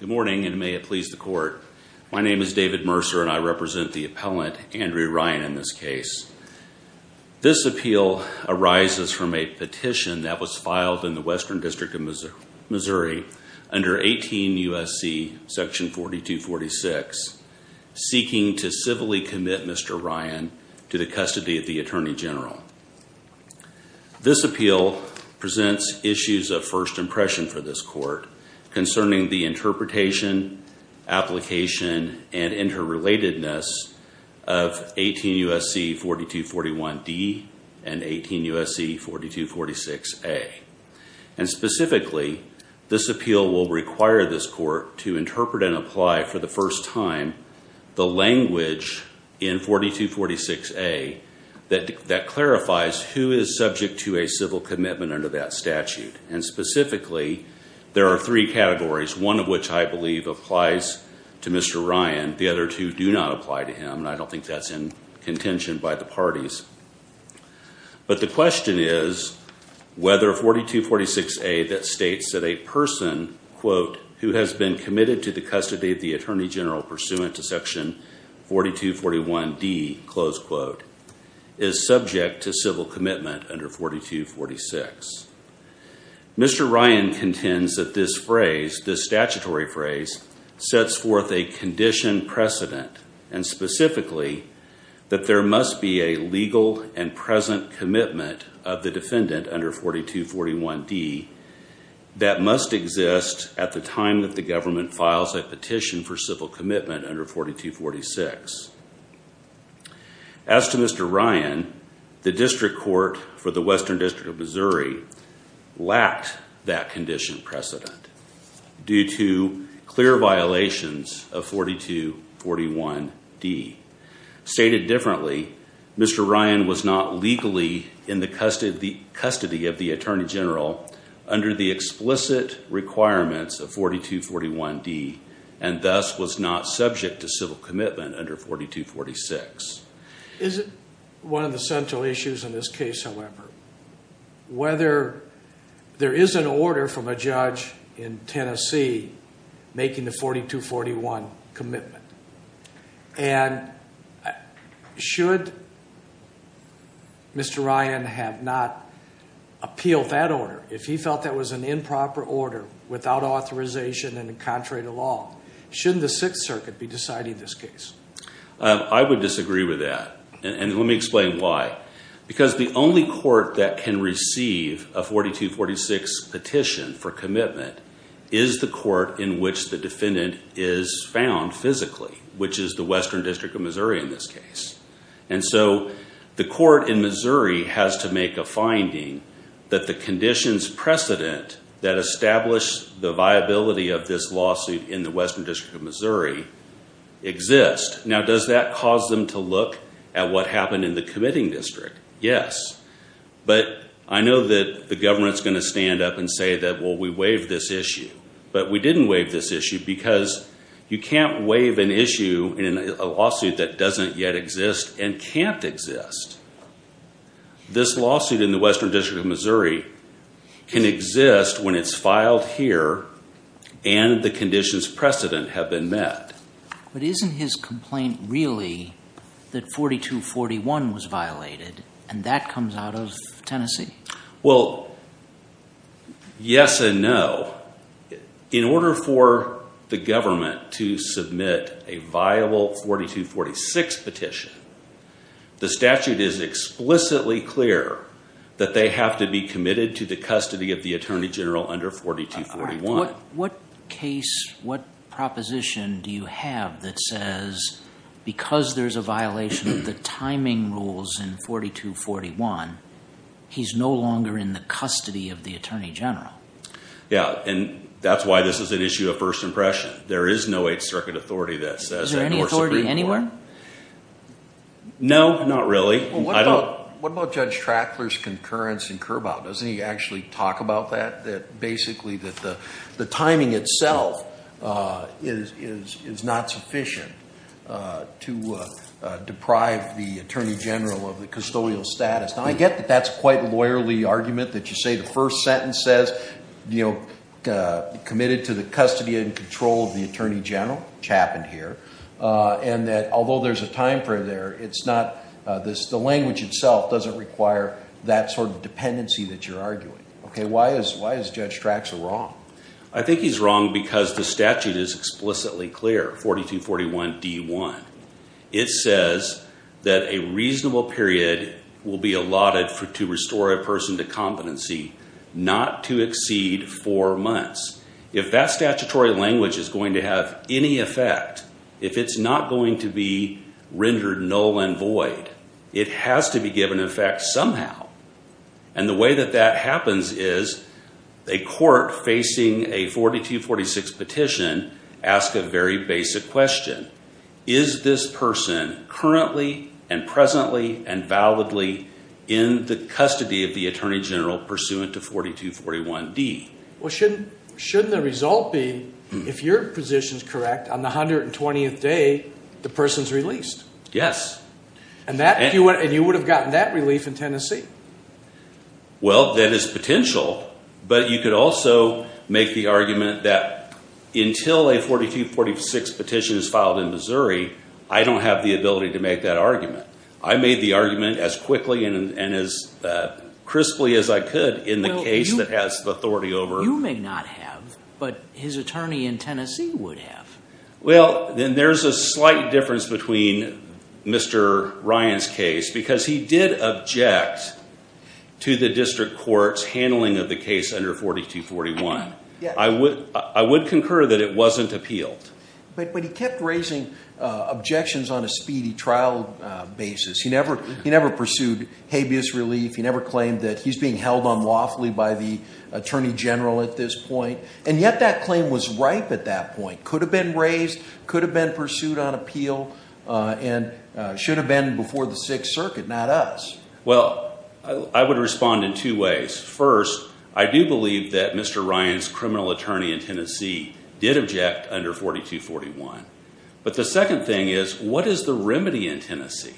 Good morning and may it please the court. My name is David Mercer and I represent the appellant Andrew Ryan in this case. This appeal arises from a petition that was filed in the Western District of Missouri under 18 U.S.C. section 4246 seeking to civilly commit Mr. General. This appeal presents issues of first impression for this court concerning the interpretation, application, and interrelatedness of 18 U.S.C. 4241D and 18 U.S.C. 4246A. And specifically, this appeal will require this court to interpret and apply for the first time the language in 4246A that clarifies who is subject to a civil commitment under that statute. And specifically, there are three categories, one of which I believe applies to Mr. Ryan, the other two do not apply to him, and I don't think that's in contention by the parties. But the question is whether 4246A that states that a person, quote, who has been committed to the attorney general pursuant to section 4241D, close quote, is subject to civil commitment under 4246. Mr. Ryan contends that this phrase, this statutory phrase, sets forth a condition precedent and specifically that there must be a legal and present commitment of the defendant under 4241D that must exist at the time that the government files a petition for civil commitment under 4246. As to Mr. Ryan, the district court for the Western District of Missouri lacked that condition precedent due to clear violations of 4241D. Stated differently, Mr. Ryan was not legally in the custody of the attorney general under the explicit requirements of 4241D and thus was not subject to civil commitment under 4246. Is it one of the central issues in this case, however, whether there is an order from a judge in Tennessee making the 4241 commitment? And should Mr. Ryan have not appealed that order if he felt that was an improper order without authorization and contrary to law? Shouldn't the Sixth Circuit be deciding this case? I would disagree with that. And let me explain why. Because the only court that can receive a 4246 petition for commitment is the court in which the defendant is found physically, which is the Western District of Missouri in this case. And so the court in Missouri has to make a finding that the conditions precedent that establish the viability of this lawsuit in the Western District of Missouri exists. Now, does that cause them to look at what happened in the committing district? Yes. But I know that the government's going to stand up and say that, well, we waived this issue. But we didn't waive this issue because you can't waive an issue in a lawsuit that doesn't yet exist and can't exist. This lawsuit in the Western District of Missouri can exist when it's filed here and the conditions precedent have been met. But isn't his complaint really that 4241 was violated and that comes out of Tennessee? Well, yes and no. In order for the government to submit a viable 4246 petition, the statute is explicitly clear that they have to be committed to the custody of the that says because there's a violation of the timing rules in 4241, he's no longer in the custody of the Attorney General. Yeah. And that's why this is an issue of first impression. There is no Eighth Circuit authority that says that. Is there any authority anywhere? No, not really. What about Judge Trackler's concurrence in Kerr Bow? Doesn't he actually talk about that, that basically that the timing itself is not sufficient to deprive the Attorney General of the custodial status? Now, I get that that's quite a lawyerly argument that you say the first sentence says, you know, committed to the custody and control of the Attorney General, which happened here, and that although there's a time for there, it's not this. The language itself doesn't require that sort of dependency that you're arguing. Okay, why is why is Judge Tracksler wrong? I think he's wrong because the statute is explicitly clear, 4241 D1. It says that a reasonable period will be allotted for to restore a person to competency, not to exceed four months. If that statutory language is going to have any effect, if it's not going to be rendered null and void, it has to be given effect somehow. And the way that that happens is a court facing a 4246 petition ask a very basic question. Is this person currently and presently and validly in the custody of the Attorney General pursuant to 4241 D? Well, shouldn't the result be if your position is correct on the 120th day, the person's released? Yes. And you would have gotten that relief in Tennessee. Well, that is potential, but you could also make the argument that until a 4246 petition is filed in Missouri, I don't have the ability to make that argument. I made the argument as you may not have, but his attorney in Tennessee would have. Well, then there's a slight difference between Mr. Ryan's case because he did object to the district court's handling of the case under 4241. I would concur that it wasn't appealed. But he kept raising objections on a speedy trial basis. He never pursued habeas relief. He never claimed that he's being held unlawfully by the Attorney General at this point. And yet that claim was ripe at that point, could have been raised, could have been pursued on appeal, and should have been before the Sixth Circuit, not us. Well, I would respond in two ways. First, I do believe that Mr. Ryan's criminal attorney in Tennessee did object under 4241. But the second thing is, what is the remedy in Tennessee?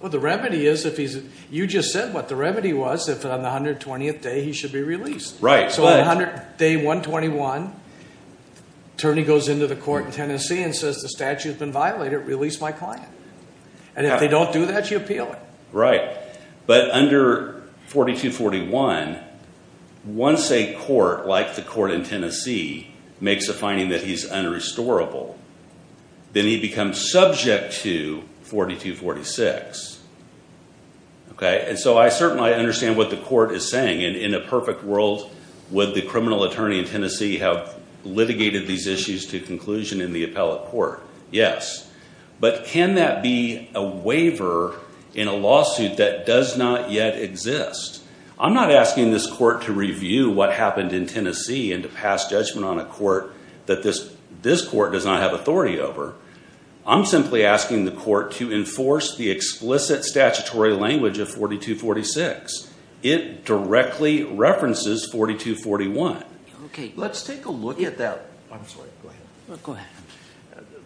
Well, the remedy is, you just said what the remedy was, if on the 120th day he should be released. Right. So on day 121, attorney goes into the court in Tennessee and says, the statute has been violated, release my client. And if they don't do that, you appeal it. Right. But under 4241, once a court like the court in Tennessee makes a finding that he's unrestorable, then he becomes subject to 4246. Okay. And so I certainly understand what the court is saying. In a perfect world, would the criminal attorney in Tennessee have litigated these issues to conclusion in the appellate court? Yes. But can that be a waiver in a lawsuit that does not yet exist? I'm not asking this court to review what happened in Tennessee and to pass judgment on a court that this court does not have authority over. I'm simply asking the court to enforce the explicit statutory language of 4246. It directly references 4241. Okay. Let's take a look at that. I'm sorry. Go ahead. Go ahead.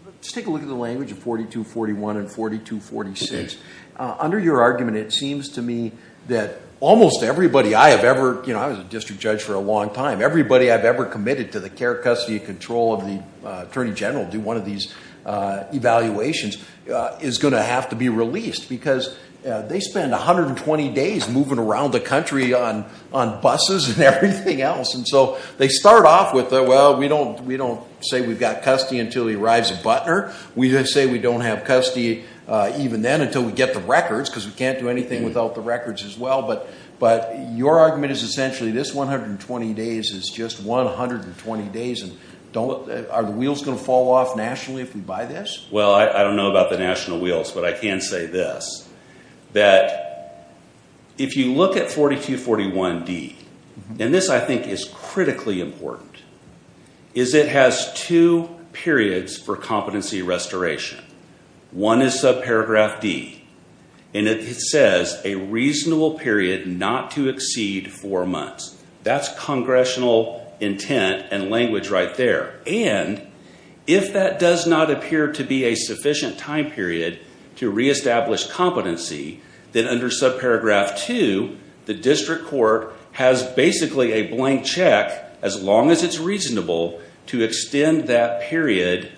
Let's take a look at the language of 4241 and 4246. Under your argument, it seems to me that almost everybody I have ever, you know, I was a district judge for a long time. Everybody I've ever committed to the care, custody, and control of the attorney general to do one of these evaluations is going to have to be released because they spend 120 days moving around the country on buses and everything else. And so they start off with, well, we don't say we've got custody until he arrives at Butner. We say we don't have custody even then until we get the records because we can't do anything without the records as well. But your argument is essentially this 120 days is just 120 days. Are the wheels going to fall off nationally if we buy this? Well, I don't know about the national wheels, but I can say this, that if you look at 4241D, and this I think is critically important, is it has two periods for competency restoration. One is subparagraph D, and it says a reasonable period not to exceed four months. That's congressional intent and language right there. And if that does not appear to be a sufficient time period to reestablish competency, then under subparagraph 2, the district court has basically a blank check, as long as it's reasonable, to extend that period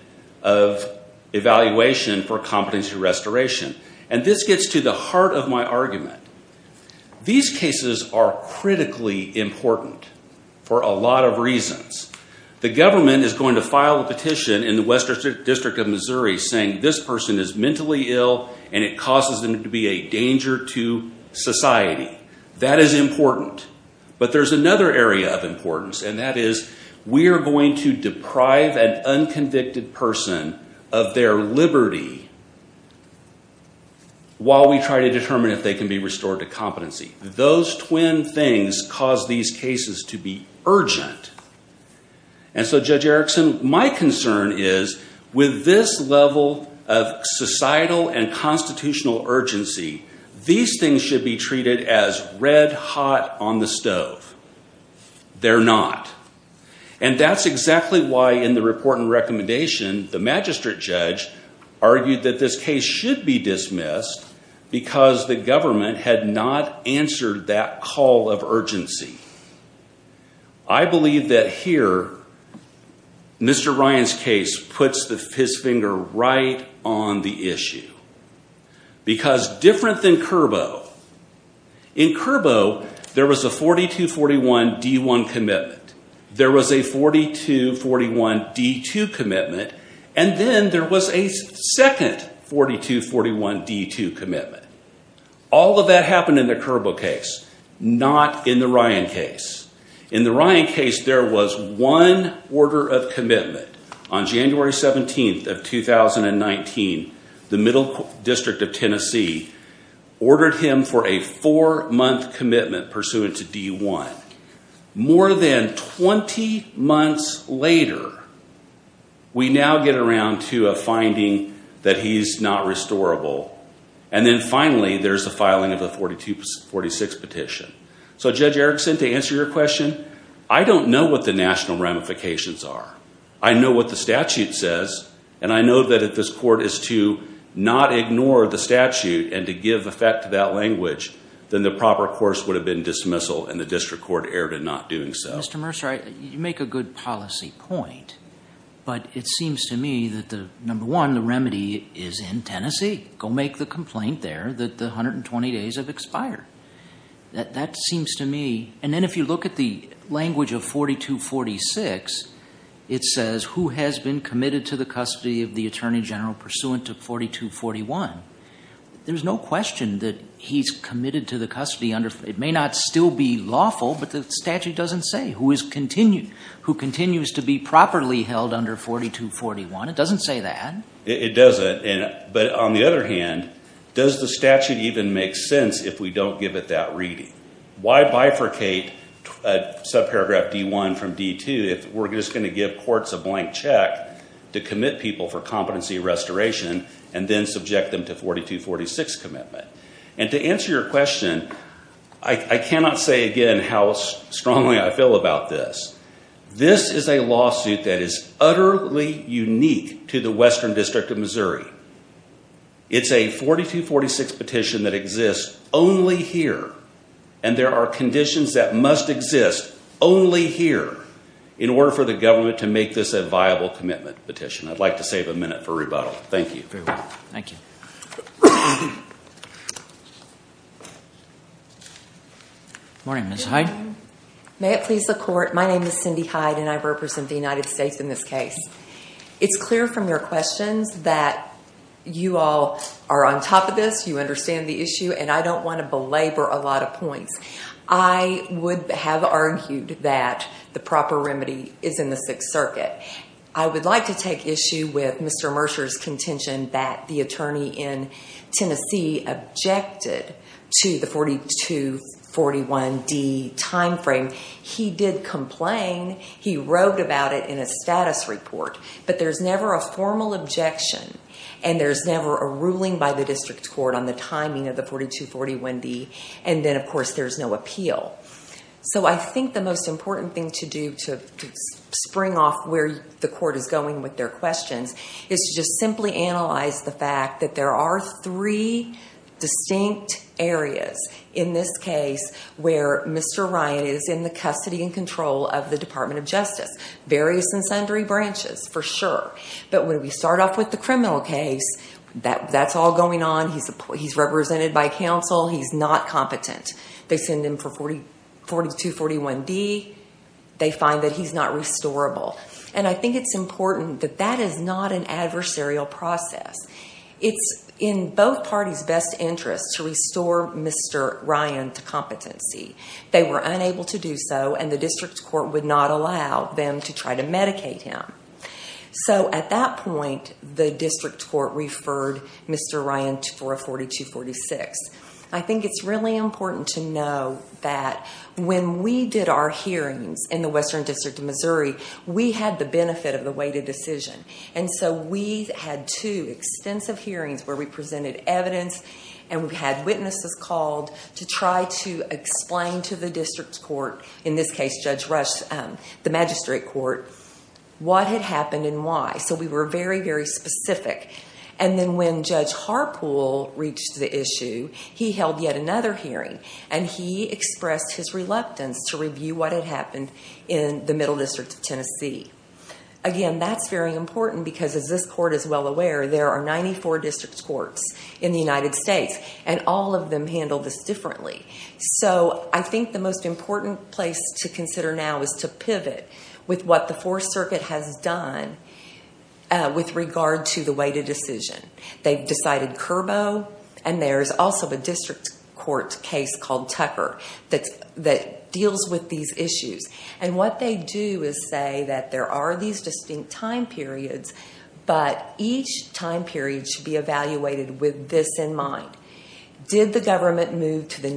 of evaluation for competency restoration. And this gets to the heart of my argument. These cases are critically important for a lot of reasons. The government is going to file a petition in the Western District of Missouri saying this person is mentally ill and it causes them to be a danger to society. That is important. But there's another area of importance, and that is we are going to deprive an unconvicted person of their liberty while we try to determine if they can be restored to competency. Those twin things cause these cases to be urgent. And so Judge Erickson, my concern is with this level of societal and constitutional urgency, these things should be treated as red hot on the stove. They're not. And that's exactly why in the report and recommendation, the magistrate judge argued that this case should be dismissed because the government had not answered that call of urgency. I believe that here, Mr. Ryan's case puts his finger right on the issue. Because different than Curbo, in Curbo, there was a 42-41-D1 commitment. There was a 42-41-D2 commitment. And then there was a second 42-41-D2 commitment. All of that happened in the Curbo case, not in the Ryan case. In the Ryan case, there was one order of commitment. On January 17th of 2019, the Middle District of Tennessee ordered him for a four-month commitment pursuant to D1. More than 20 months later, we now get around to a finding that he's not restorable. And then finally, there's the filing of the 42-46 petition. So Judge Erickson, to answer your question, I don't know what the national ramifications are. I know what the statute says. And I know that if this court is to not ignore the statute and to give effect to that language, then the proper course would have been dismissal and the district court erred in not doing so. Mr. Mercer, you make a good policy point. But it seems to me that, number one, the remedy is in Tennessee. Go make the complaint there that the 120 days have expired. That seems to me... And then if you look at the language of 42-41, there's no question that he's committed to the custody under... It may not still be lawful, but the statute doesn't say who continues to be properly held under 42-41. It doesn't say that. It doesn't. But on the other hand, does the statute even make sense if we don't give it that reading? Why bifurcate subparagraph D1 from D2 if we're just going to give courts a blank check to commit people for competency restoration and then subject them to 42-46 commitment? And to answer your question, I cannot say again how strongly I feel about this. This is a lawsuit that is utterly unique to the Western District of Missouri. It's a 42-46 petition that exists only here. And there are conditions that must exist only here in order for the government to make this a viable commitment petition. I'd like to save a minute for rebuttal. Thank you. Very well. Thank you. Morning, Ms. Hyde. May it please the court. My name is Cindy Hyde, and I represent the United States in this case. It's clear from your questions that you all are on top of this, you understand the issue, and I don't want to belabor a lot of points. I would have argued that the proper remedy is in the Sixth Circuit. I would like to take issue with Mr. Mercer's contention that the attorney in Tennessee objected to the 42-41D timeframe. He did complain. He wrote about it in a status report. But there's never a formal objection, and there's never a ruling by the district court on the timing of the 42-41D. And then, of course, there's no appeal. So I think the most important thing to do to spring off where the court is going with their questions is to just simply analyze the fact that there are three distinct areas in this case where Mr. Ryan is in the custody and control of the Department of Justice. Various and sundry branches, for sure. But when we start off with the by counsel, he's not competent. They send him for 42-41D. They find that he's not restorable. And I think it's important that that is not an adversarial process. It's in both parties' best interest to restore Mr. Ryan to competency. They were unable to do so, and the district court would not allow them to try to medicate him. So at that point, the district court referred Mr. Ryan for a 42-46. I think it's really important to know that when we did our hearings in the Western District of Missouri, we had the benefit of the weighted decision. And so we had two extensive hearings where we presented evidence, and we had witnesses called to try to explain to the district court, in this case, Judge Rush, the magistrate court, what had happened and why. So we were very, very specific. And then when Judge Harpool reached the issue, he held yet another hearing, and he expressed his reluctance to review what had happened in the Middle District of Tennessee. Again, that's very important because, as this court is well aware, there are 94 district courts in the United States, and all of them handle this differently. So I think the most important place to consider now is to pivot with what the Fourth Circuit has done with regard to the weighted decision. They've decided Curbo, and there's also a district court case called Tucker that deals with these issues. And what they do is say that there are these distinct time periods, but each time period should be evaluated with this in mind. Did the government move to the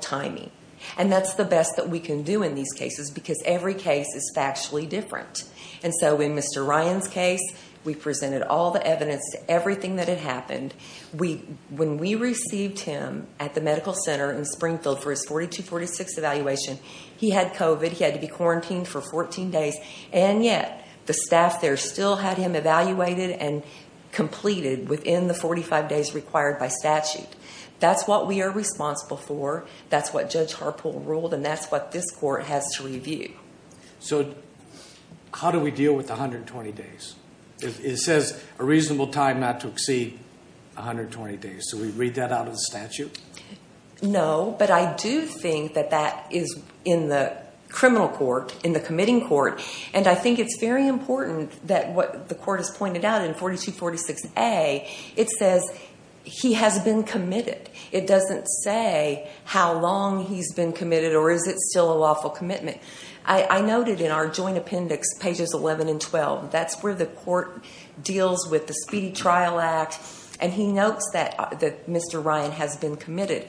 timing? And that's the best that we can do in these cases because every case is factually different. And so in Mr. Ryan's case, we presented all the evidence, everything that had happened. When we received him at the medical center in Springfield for his 4246 evaluation, he had COVID, he had to be quarantined for 14 days, and yet the staff there still had him evaluated and That's what we are responsible for. That's what Judge Harpool ruled, and that's what this court has to review. So how do we deal with 120 days? It says a reasonable time not to exceed 120 days. Do we read that out of the statute? No, but I do think that that is in the criminal court, in the committing court. And I think it's very important that what the court has pointed out in 4246A, it says he has been committed. It doesn't say how long he's been committed or is it still a lawful commitment. I noted in our joint appendix, pages 11 and 12, that's where the court deals with the Speedy Trial Act, and he notes that Mr. Ryan has been committed.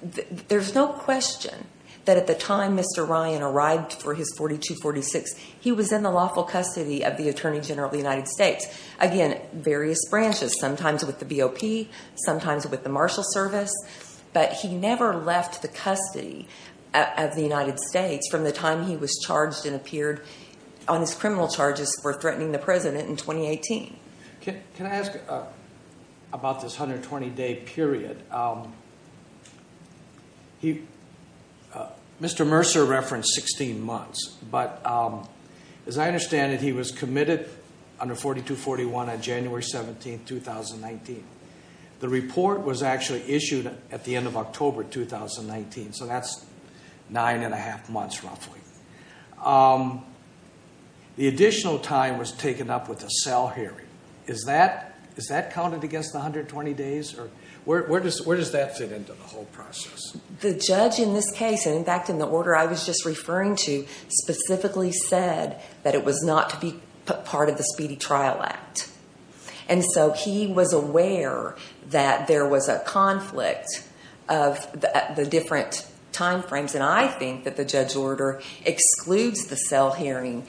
There's no question that at the time Mr. Ryan arrived for his 4246, he was in the lawful custody of the Attorney General of the United States. Again, various branches, sometimes with the BOP, sometimes with the Marshal Service, but he never left the custody of the United States from the time he was charged and appeared on his criminal charges for threatening the President in 2018. Can I ask about this 120-day period? Mr. Mercer referenced 16 months, but as I understand it, he was committed under 4241 on January 17th, 2019. The report was actually issued at the end of October 2019, so that's nine and a half months, roughly. The additional time was taken up with a cell hearing. Is that counted against the 120 days, or where does that fit into the whole process? The judge in this case, and in fact in the order I was just referring to, specifically said that it was not to be part of the Speedy Trial Act, and so he was aware that there was a conflict of the different time frames, and I think that the judge's order excludes the cell hearing.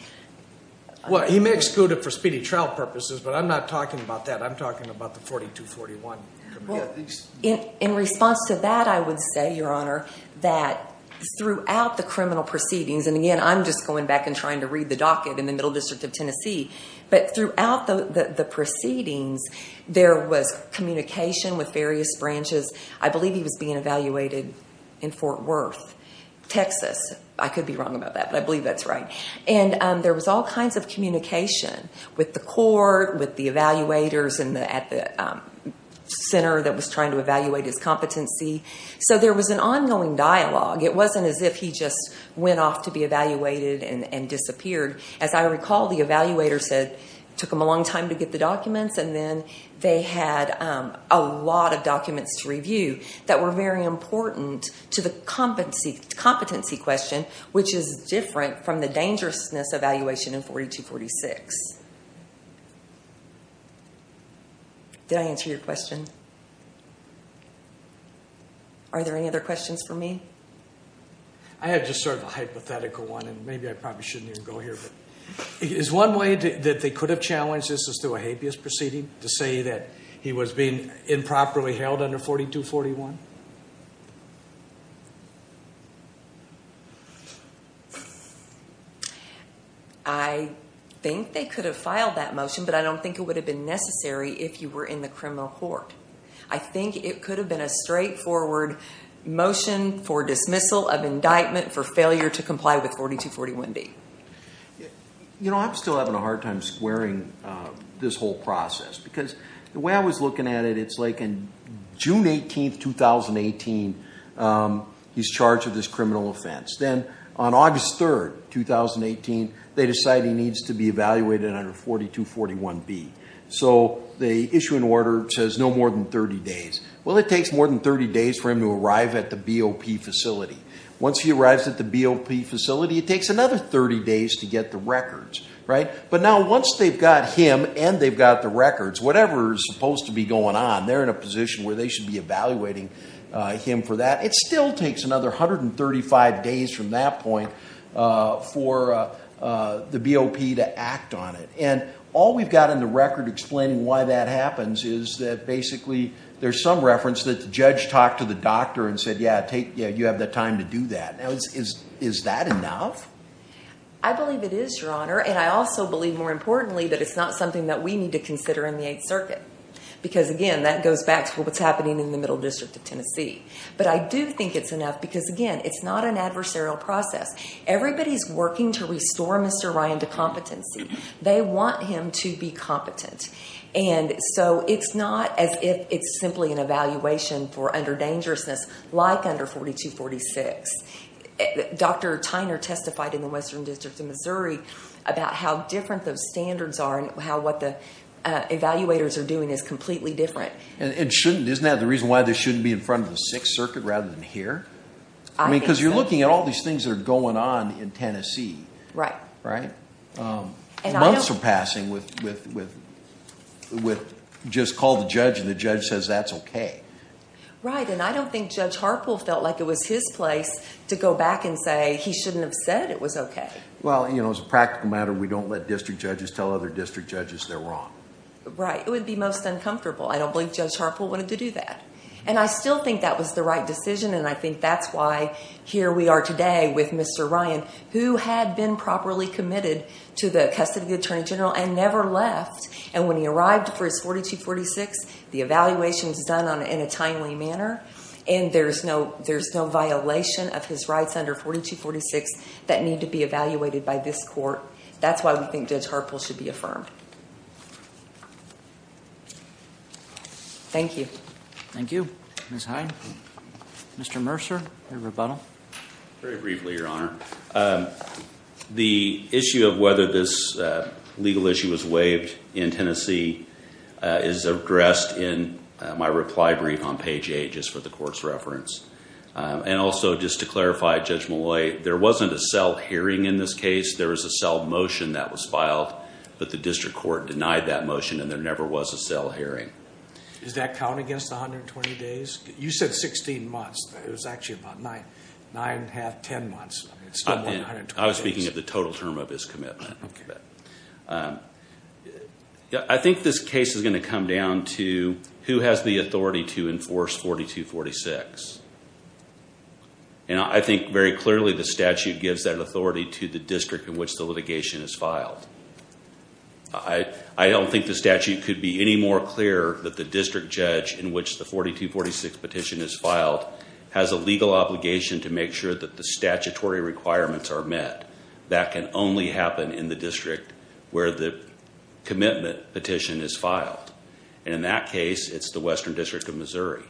Well, he may exclude it for Speedy Trial purposes, but I'm not talking about that. I'm talking about the 4241. In response to that, I would say, Your Honor, that throughout the criminal proceedings, and again, I'm just going back and trying to read the docket in the Middle District of Tennessee, but throughout the proceedings, there was communication with various branches. I believe he was being evaluated in Fort Worth, Texas. I could be wrong about that, but I believe that's right, and there was all kinds of communication with the court, with the evaluators at the center that was trying to evaluate his competency, so there was an ongoing dialogue. It wasn't as if he just went off to be evaluated and disappeared. As I recall, the evaluator said it took him a long time to get the documents, and then they had a lot of documents to review that were very important to the competency question, which is different from the dangerousness evaluation in 4246. Did I answer your question? Are there any other questions for me? I have just sort of a hypothetical one, and maybe I probably shouldn't even go here, but is one way that they could have challenged this is through a habeas proceeding, to say that he was being improperly held under 4241? I think they could have filed that motion, but I don't think it would have been necessary if you were in the criminal court. I think it could have been a straightforward motion for dismissal of indictment for failure to comply with 4241B. I'm still having a hard time squaring this whole process, because the way I was looking at it, it's like in June 18, 2018, he's charged with this criminal offense. Then on August 3, 2018, they decide he needs to be evaluated under 4241B. The issuing order says no more than 30 days. Well, it takes more than 30 days for him to arrive at the BOP facility. Once he arrives at the BOP facility, it takes another 30 days to get the records, right? Now, once they've got him and they've got the records, whatever is supposed to be going on, they're in a position where they should be evaluating him for that. It still takes another 135 days from that point for the BOP to act on it. All we've got in the record explaining why that happens is that basically there's some reference that the judge talked to the doctor and said, yeah, you have the time to do that. Now, is that enough? I believe it is, Your Honor. I also believe, more importantly, that it's not something that we need to consider in the Eighth Circuit, because again, that goes back to what's happening in the Middle because again, it's not an adversarial process. Everybody's working to restore Mr. Ryan to competency. They want him to be competent, and so it's not as if it's simply an evaluation for underdangerousness like under 4246. Dr. Tyner testified in the Western District of Missouri about how different those standards are and how what the evaluators are doing is completely different. And isn't that the reason why they shouldn't be in front of the Sixth Circuit rather than here? Because you're looking at all these things that are going on in Tennessee. Months are passing with just call the judge and the judge says that's okay. Right, and I don't think Judge Harpool felt like it was his place to go back and say he shouldn't have said it was okay. Well, as a practical matter, we don't let district judges tell other district judges they're wrong. Right. It would be most uncomfortable. I don't believe Judge Harpool wanted to do that. And I still think that was the right decision, and I think that's why here we are today with Mr. Ryan, who had been properly committed to the custody of the Attorney General and never left. And when he arrived for his 4246, the evaluation was done in a timely manner, and there's no violation of his rights under 4246 that need to be evaluated by this court. That's why we think Judge Harpool should be affirmed. Thank you. Thank you. Ms. Hyde. Mr. Mercer, your rebuttal. Very briefly, Your Honor. The issue of whether this legal issue was waived in Tennessee is addressed in my reply brief on page 8, just for the court's reference. And also, just to clarify, Judge Malloy, there wasn't a was filed, but the district court denied that motion, and there never was a cell hearing. Does that count against the 120 days? You said 16 months. It was actually about nine, nine and a half, 10 months. I was speaking of the total term of his commitment. I think this case is going to come down to who has the authority to enforce 4246. And I think very clearly the statute gives that authority to the district in which the litigation is filed. I don't think the statute could be any more clear that the district judge in which the 4246 petition is filed has a legal obligation to make sure that the statutory requirements are met. That can only happen in the district where the commitment petition is filed. And in that case, it's the Western District of Missouri.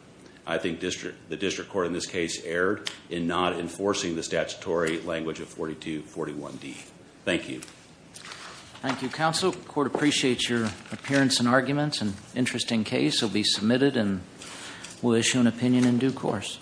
I think the district court in this case erred in not enforcing the statutory language of 4241D. Thank you. Thank you, counsel. The court appreciates your appearance and arguments. An interesting case will be submitted, and we'll issue an opinion in due course.